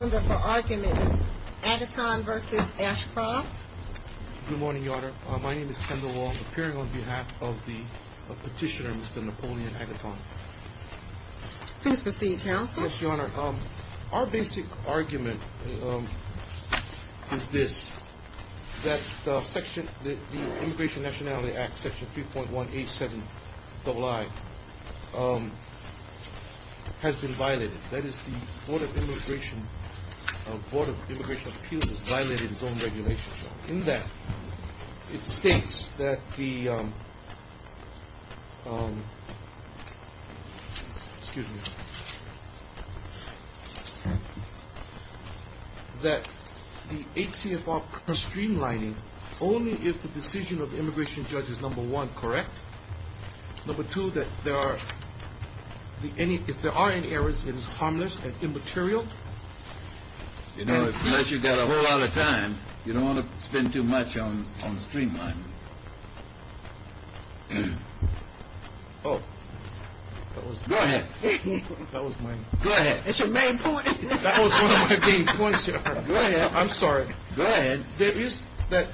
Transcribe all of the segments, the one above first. Good morning, Your Honor. My name is Kendall Wong, appearing on behalf of Petitioner Mr. Napoleon Agaton. Please proceed, Counsel. Yes, Your Honor. Our basic argument is this, that the Immigration Nationality Act, Section 3.187-II, has been violated. That is, the Board of Immigration Appeals has violated its own regulations. In that, it states that the HCFR streamlining only if the decision of the immigration judge is, number one, correct, number two, that there are, if there are any errors, it is harmless and immaterial. You know, unless you've got a whole lot of time, you don't want to spend too much on streamlining. Oh. Go ahead. Go ahead. It's your main point. That was one of my main points, Your Honor. Go ahead. I'm sorry. Go ahead. There is, that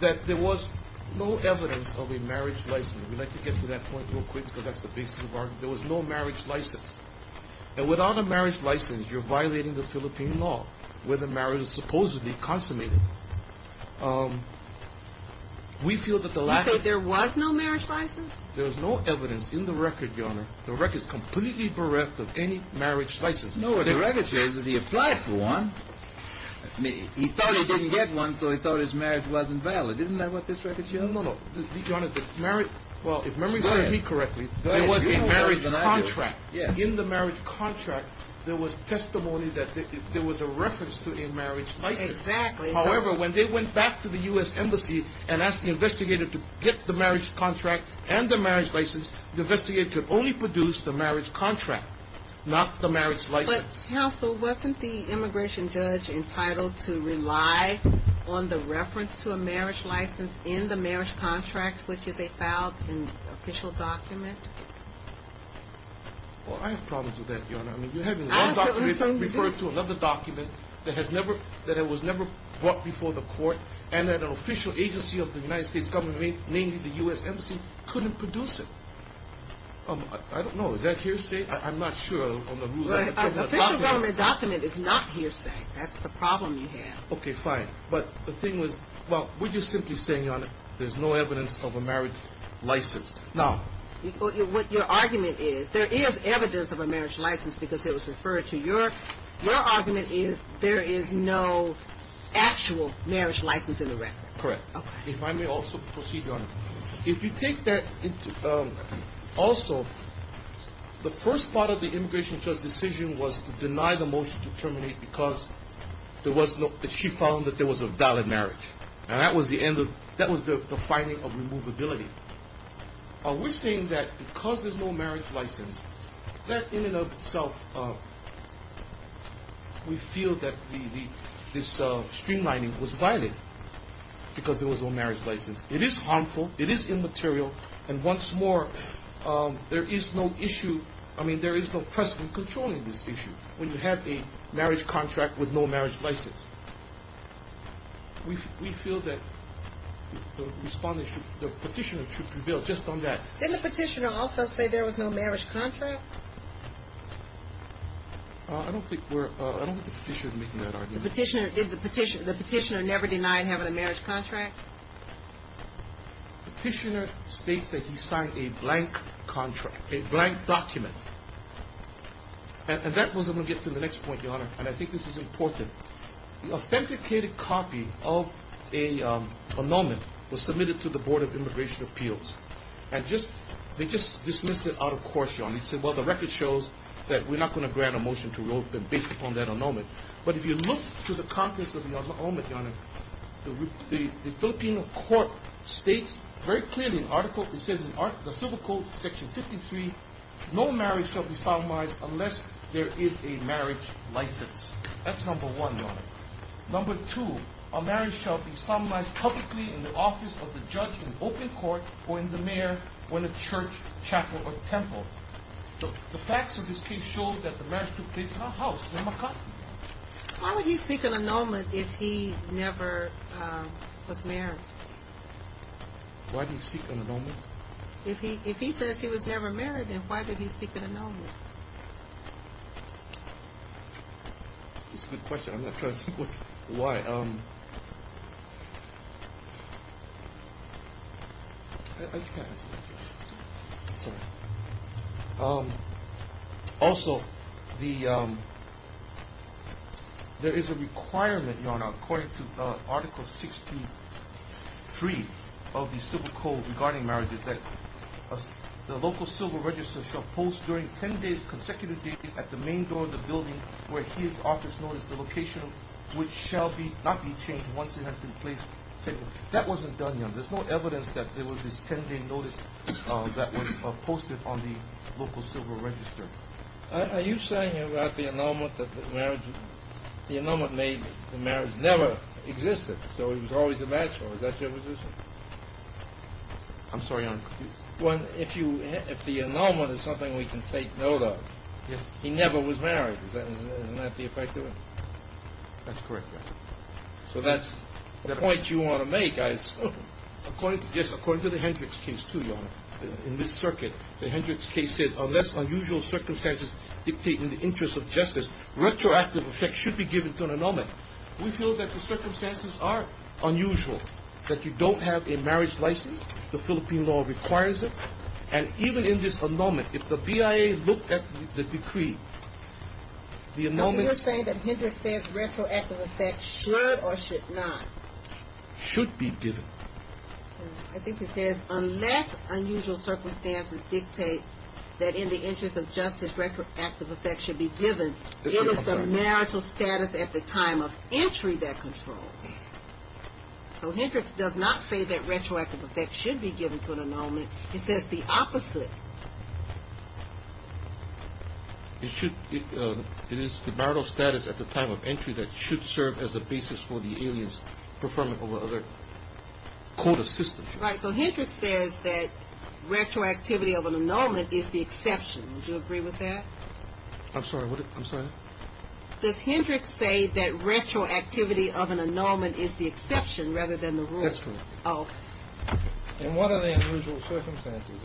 there was no evidence of a marriage license. We'd like to get to that point real quick, because that's the basis of our argument. There was no marriage license. And without a marriage license, you're violating the Philippine law, where the marriage is supposedly consummated. We feel that the lack of You say there was no marriage license? There was no evidence in the record, Your Honor. The record is completely bereft of any marriage license. No, the record says that he applied for one. He thought he didn't get one, so he thought his marriage wasn't valid. Isn't that what this record shows? No, no, no. Your Honor, the marriage, well, if memory serves me correctly, there was a marriage contract. Yes. In the marriage contract, there was testimony that there was a reference to a marriage license. Exactly. However, when they went back to the U.S. Embassy and asked the investigator to get the marriage contract and the marriage license, the investigator could only produce the marriage contract, not the marriage license. But, counsel, wasn't the immigration judge entitled to rely on the reference to a marriage license in the marriage contract, which is a filed official document? Well, I have problems with that, Your Honor. I mean, you're having one document referred to another document that was never brought before the court, and that an official agency of the United States government, namely the U.S. Embassy, couldn't produce it. I don't know. Is that hearsay? I'm not sure on the rules of the document. An official government document is not hearsay. That's the problem you have. Okay, fine. But the thing was, well, we're just simply saying, Your Honor, there's no evidence of a marriage license. Now. What your argument is, there is evidence of a marriage license because it was referred to. Your argument is there is no actual marriage license in the record. Correct. Okay. If I may also proceed, Your Honor, if you take that also, the first part of the immigration judge's decision was to deny the motion to terminate because she found that there was a valid marriage, and that was the finding of removability. We're saying that because there's no marriage license, that in and of itself, we feel that this streamlining was valid because there was no marriage license. It is harmful. It is immaterial. And once more, there is no issue. I mean, there is no precedent controlling this issue when you have a marriage contract with no marriage license. We feel that the Respondent should, the Petitioner should reveal just on that. Didn't the Petitioner also say there was no marriage contract? I don't think we're, I don't think the Petitioner is making that argument. The Petitioner, did the Petitioner, the Petitioner never deny having a marriage contract? Petitioner states that he signed a blank contract, a blank document. And that was, I'm going to get to the next point, Your Honor, and I think this is important. The authenticated copy of a annulment was submitted to the Board of Immigration Appeals. And just, they just dismissed it out of course, Your Honor. They said, well, the record shows that we're not going to grant a motion to rule based upon that annulment. But if you look to the contents of the annulment, Your Honor, the Philippine Court states very clearly in Article, it says in the Civil Code, Section 53, no marriage shall be solemnized unless there is a marriage license. That's number one, Your Honor. Number two, a marriage shall be solemnized publicly in the office of the judge in open court or in the mayor or in a church, chapel, or temple. The facts of this case show that the marriage took place in a house, in a house. Why would he seek an annulment if he never was married? Why did he seek an annulment? If he says he was never married, then why did he seek an annulment? It's a good question. I'm not sure why. Also, there is a requirement, Your Honor, according to Article 63 of the Civil Code regarding marriages that the local civil register shall post during 10 days consecutively at the main door of the building where his office notice, the location which shall not be changed once it has been placed. That wasn't done, Your Honor. There's no evidence that there was this 10-day notice that was posted on the local civil register. Are you saying, Your Honor, that the annulment made the marriage never existed, so it was always a match? Or is that your position? I'm sorry, Your Honor. Well, if the annulment is something we can take note of, he never was married. Isn't that the effect of it? That's correct, Your Honor. So that's the point you want to make. Yes, according to the Hendricks case, too, Your Honor. In this circuit, the Hendricks case said unless unusual circumstances dictate in the interest of justice, retroactive effect should be given to an annulment. We feel that the circumstances are unusual, that you don't have a marriage license. The Philippine law requires it. And even in this annulment, if the BIA looked at the decree, the annulment... Are you saying that Hendricks says retroactive effect should or should not? Should be given. I think it says unless unusual circumstances dictate that in the interest of justice, So Hendricks does not say that retroactive effect should be given to an annulment. He says the opposite. It is the marital status at the time of entry that should serve as a basis for the alien's performance over other court assistants. Right, so Hendricks says that retroactivity of an annulment is the exception. Would you agree with that? I'm sorry, what did I say? Does Hendricks say that retroactivity of an annulment is the exception rather than the rule? That's correct. Oh. And what are the unusual circumstances?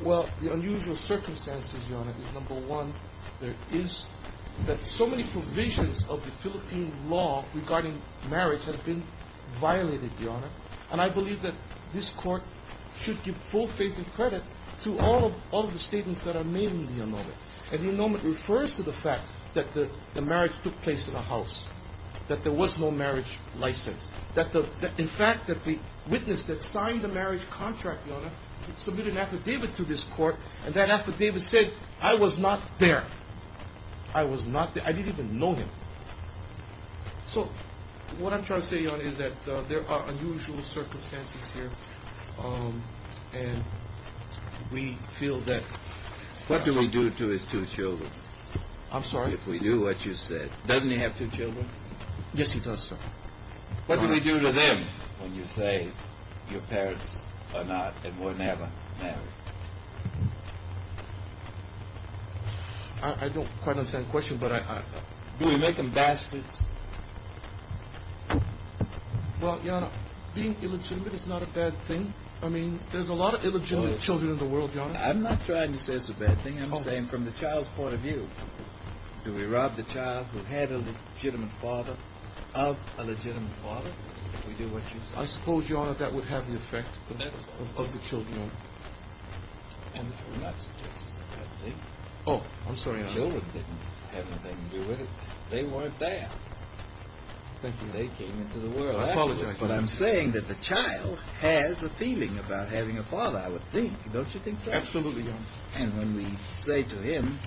Well, the unusual circumstances, Your Honor, is number one. There is that so many provisions of the Philippine law regarding marriage has been violated, Your Honor. And I believe that this court should give full faith and credit to all of the statements that are made in the annulment. And the annulment refers to the fact that the marriage took place in a house, that there was no marriage license, in fact, that the witness that signed the marriage contract, Your Honor, submitted an affidavit to this court, and that affidavit said, I was not there. I was not there. I didn't even know him. So what I'm trying to say, Your Honor, is that there are unusual circumstances here, and we feel that What do we do to his two children? I'm sorry? If we do what you said. Doesn't he have two children? Yes, he does, sir. What do we do to them when you say, your parents are not and were never married? I don't quite understand the question, but I Do we make them bastards? Well, Your Honor, being illegitimate is not a bad thing. I mean, there's a lot of illegitimate children in the world, Your Honor. I'm not trying to say it's a bad thing. I'm saying, from the child's point of view, do we rob the child who had a legitimate father of a legitimate father? Do we do what you said? I suppose, Your Honor, that would have the effect of the children. I'm not suggesting it's a bad thing. Oh, I'm sorry. The children didn't have anything to do with it. They weren't there. Thank you. They came into the world. I apologize. But I'm saying that the child has a feeling about having a father, I would think. Don't you think so? Absolutely, Your Honor. And when we say to him,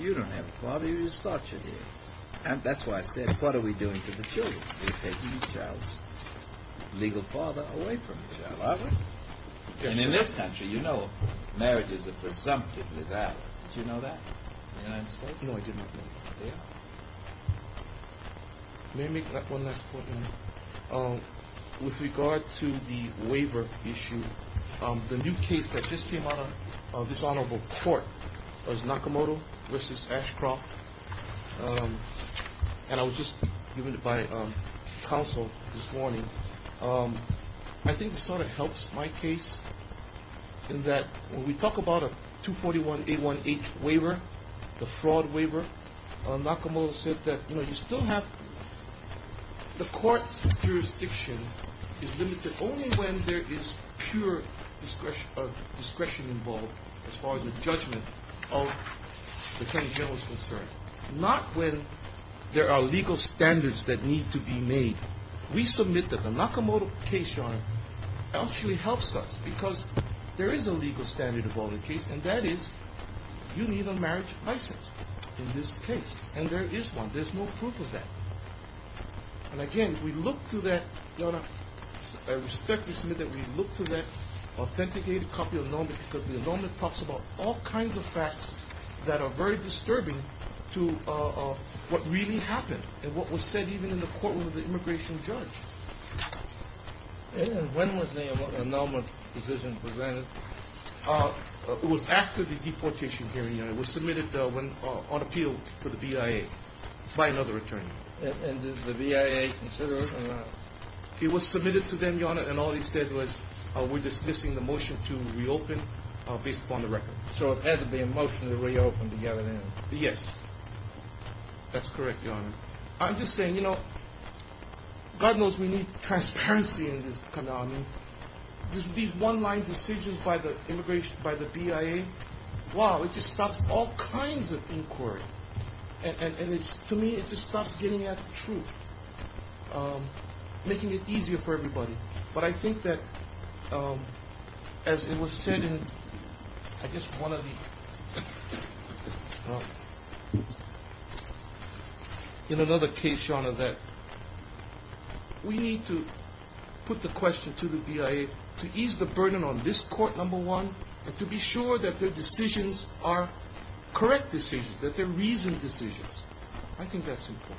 you don't have a father, you just thought you did. And that's why I said, what are we doing to the children? We're taking the child's legal father away from the child, aren't we? And in this country, you know marriages are presumptively valid. Did you know that? May I answer? No, I did not know that. Yeah. May I make one last point? With regard to the waiver issue, the new case that just came out of this honorable court was Nakamoto v. Ashcroft. And I was just given it by counsel this morning. I think this sort of helps my case in that when we talk about a 241-818 waiver, the fraud waiver, Nakamoto said that you still have the court jurisdiction is limited only when there is pure discretion involved as far as the judgment of the Attorney General is concerned. Not when there are legal standards that need to be made. We submit that the Nakamoto case, Your Honor, actually helps us because there is a legal standard involved in the case, and that is you need a marriage license in this case. And there is one. There's no proof of that. And again, we look to that, Your Honor, I respectfully submit that we look to that authenticated copy of the annulment because the annulment talks about all kinds of facts that are very disturbing to what really happened and what was said even in the courtroom of the immigration judge. And when was the annulment decision presented? It was after the deportation hearing, Your Honor. It was submitted on appeal to the BIA by another attorney. And did the BIA consider it or not? It was submitted to them, Your Honor, and all they said was we're dismissing the motion to reopen based upon the record. So it had to be a motion to reopen to get it in. Yes. That's correct, Your Honor. I'm just saying, you know, God knows we need transparency in this condominium. These one-line decisions by the BIA, wow, it just stops all kinds of inquiry. And to me, it just stops getting at the truth, making it easier for everybody. But I think that as it was said in, I guess, one of the, in another case, Your Honor, that we need to put the question to the BIA to ease the burden on this court, number one, and to be sure that their decisions are correct decisions, that they're reasoned decisions. I think that's important.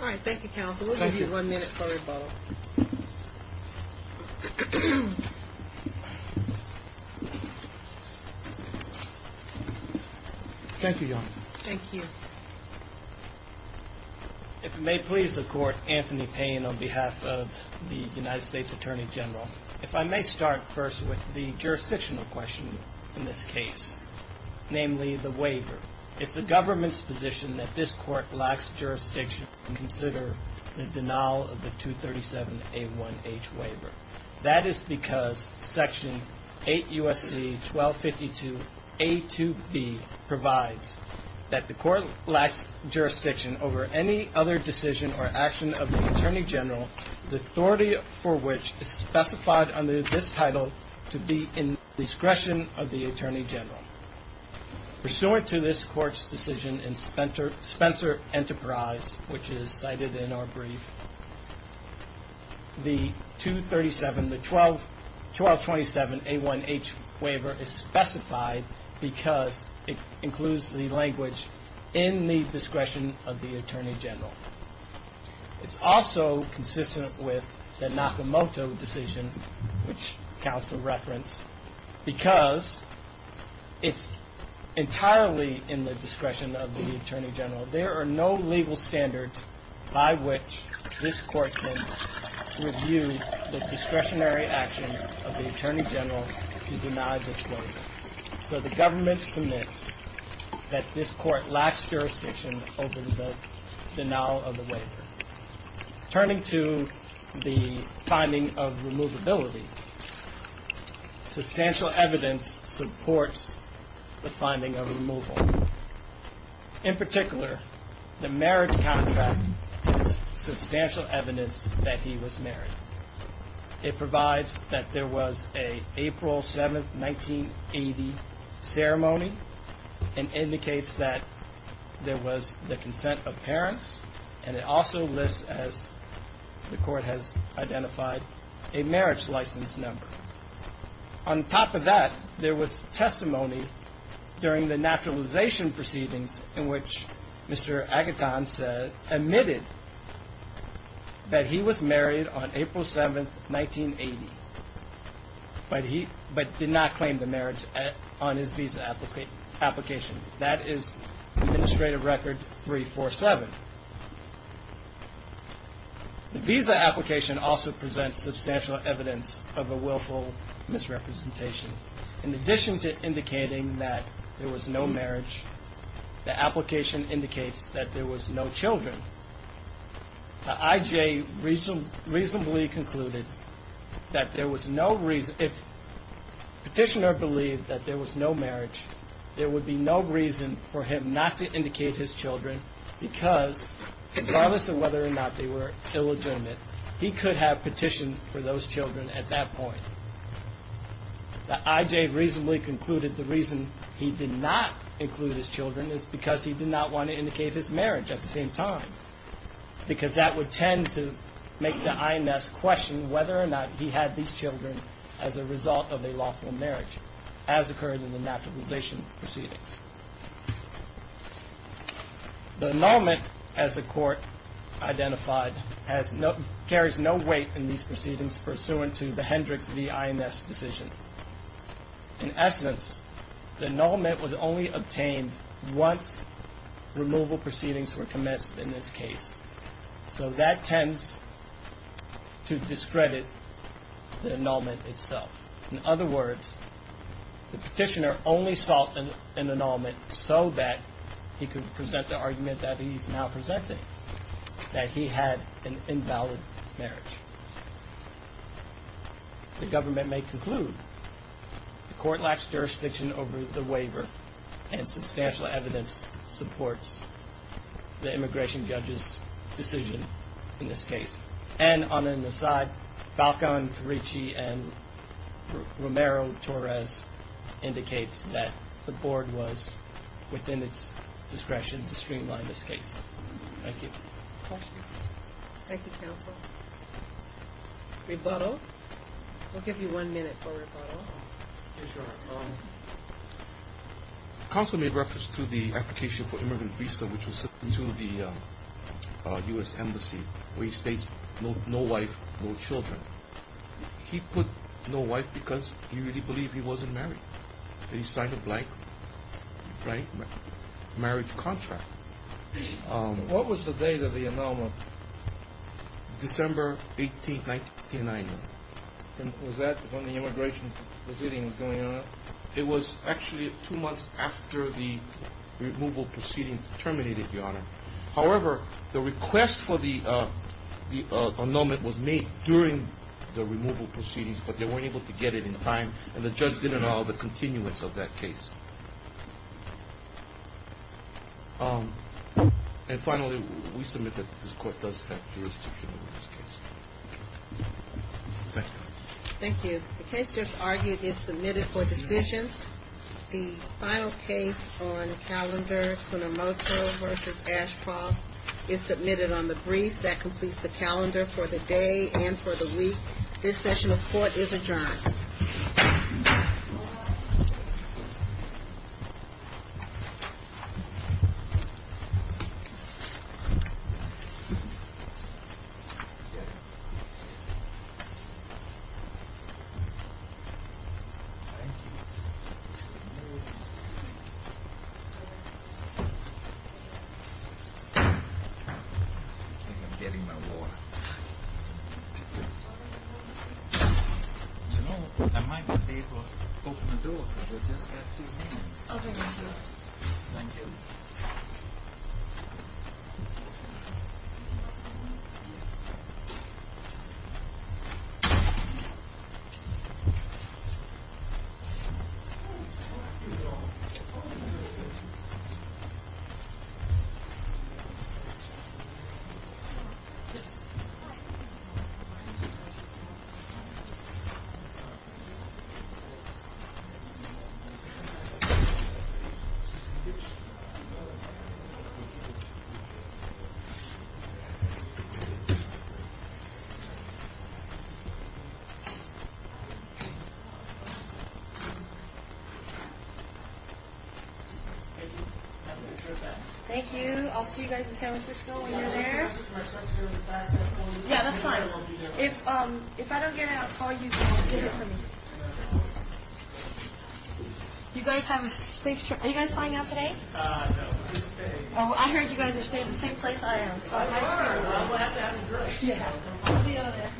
All right. Thank you, counsel. We'll give you one minute for rebuttal. Thank you, Your Honor. Thank you. If it may please the Court, Anthony Payne on behalf of the United States Attorney General. If I may start first with the jurisdictional question in this case, namely the waiver. It's the government's position that this court lacks jurisdiction to consider the denial of the 237-A1H waiver. That is because Section 8 U.S.C. 1252-A2B provides that the court lacks jurisdiction over any other decision or action of the Attorney General, the authority for which is specified under this title to be in the discretion of the Attorney General. Pursuant to this court's decision in Spencer Enterprise, which is cited in our brief, the 1227-A1H waiver is specified because it includes the language in the discretion of the Attorney General. It's also consistent with the Nakamoto decision, which counsel referenced, because it's entirely in the discretion of the Attorney General. There are no legal standards by which this court can review the discretionary actions of the Attorney General to deny this waiver. So the government submits that this court lacks jurisdiction over the denial of the waiver. Turning to the finding of removability, substantial evidence supports the finding of removal. In particular, the marriage contract is substantial evidence that he was married. It provides that there was an April 7, 1980 ceremony and indicates that there was the consent of parents. And it also lists, as the court has identified, a marriage license number. On top of that, there was testimony during the naturalization proceedings in which Mr. Agaton said, admitted that he was married on April 7, 1980, but did not claim the marriage on his visa application. That is Administrative Record 347. The visa application also presents substantial evidence of a willful misrepresentation. In addition to indicating that there was no marriage, the application indicates that there was no children. The I.J. reasonably concluded that if the petitioner believed that there was no marriage, there would be no reason for him not to indicate his children because, regardless of whether or not they were ill-adjointed, he could have petitioned for those children at that point. The I.J. reasonably concluded the reason he did not include his children is because he did not want to indicate his marriage at the same time. Because that would tend to make the I.N.S. question whether or not he had these children as a result of a lawful marriage, as occurred in the naturalization proceedings. The annulment, as the Court identified, carries no weight in these proceedings pursuant to the Hendricks v. I.N.S. decision. In essence, the annulment was only obtained once removal proceedings were commenced in this case. So that tends to discredit the annulment itself. In other words, the petitioner only sought an annulment so that he could present the argument that he is now presenting, that he had an invalid marriage. The government may conclude the Court lacks jurisdiction over the waiver and substantial evidence supports the immigration judge's decision in this case. And on an aside, Falcon, Caricci, and Romero-Torres indicates that the Board was within its discretion to streamline this case. Thank you. Thank you, Counsel. Rebuttal? We'll give you one minute for rebuttal. Yes, Your Honor. Counsel made reference to the application for immigrant visa which was sent to the U.S. Embassy where he states no wife, no children. He put no wife because he really believed he wasn't married. He signed a blank marriage contract. What was the date of the annulment? December 18, 1989. And was that when the immigration proceeding was going on? It was actually two months after the removal proceeding terminated, Your Honor. However, the request for the annulment was made during the removal proceedings, but they weren't able to get it in time, and the judge didn't allow the continuance of that case. And finally, we submit that this Court does have jurisdiction over this case. Thank you. Thank you. The case just argued is submitted for decision. The final case on calendar, Funamoto v. Ashcroft, is submitted on the briefs. That completes the calendar for the day and for the week. This session of court is adjourned. Thank you. I think I'm getting my water. You know, I might be able to open the door because I just got two minutes. Okay. Thank you. Thank you. Thank you. I'll see you guys in San Francisco when you're there. Yeah, that's fine. If I don't get it, I'll call you and get it for me. You guys have a safe trip. Are you guys flying out today? No, we're staying. I heard you guys are staying at the same place I am. We'll have to have a drink. Yeah.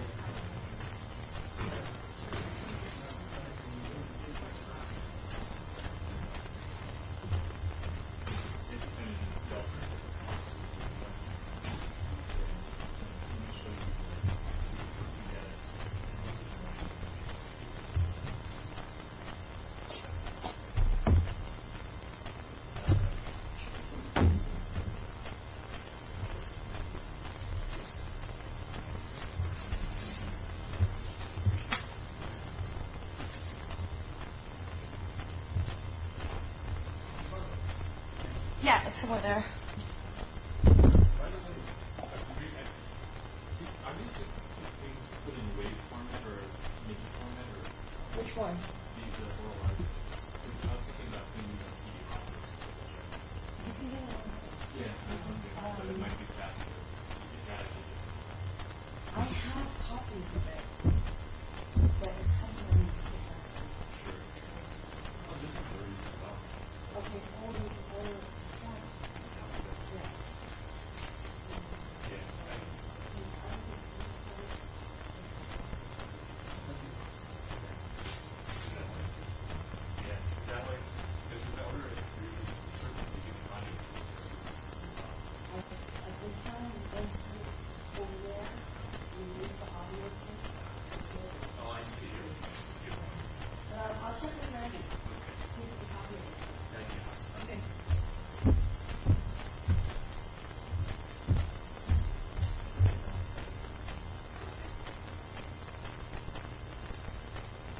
Yeah, it's somewhere there. I'm just wondering. Are these things put in a way to make it more memorable? Which one? Because it has to end up in the CD copies. Yeah, that's what I'm getting at. But it might be faster. I have copies of it, but it's something I need to get. Sure. Okay. I'll just put it where you want. Okay. Oh, there's a camera. Yeah. Yeah. I know. You can turn it. That way? Yeah, that way. There's a belter. It's really sort of to get in front of you. Okay. At this time, we're going to go over there. Oh, I see you. Let's get one. How should we get it? Let's get one. Okay. Okay. Thank you. Thank you. Okay.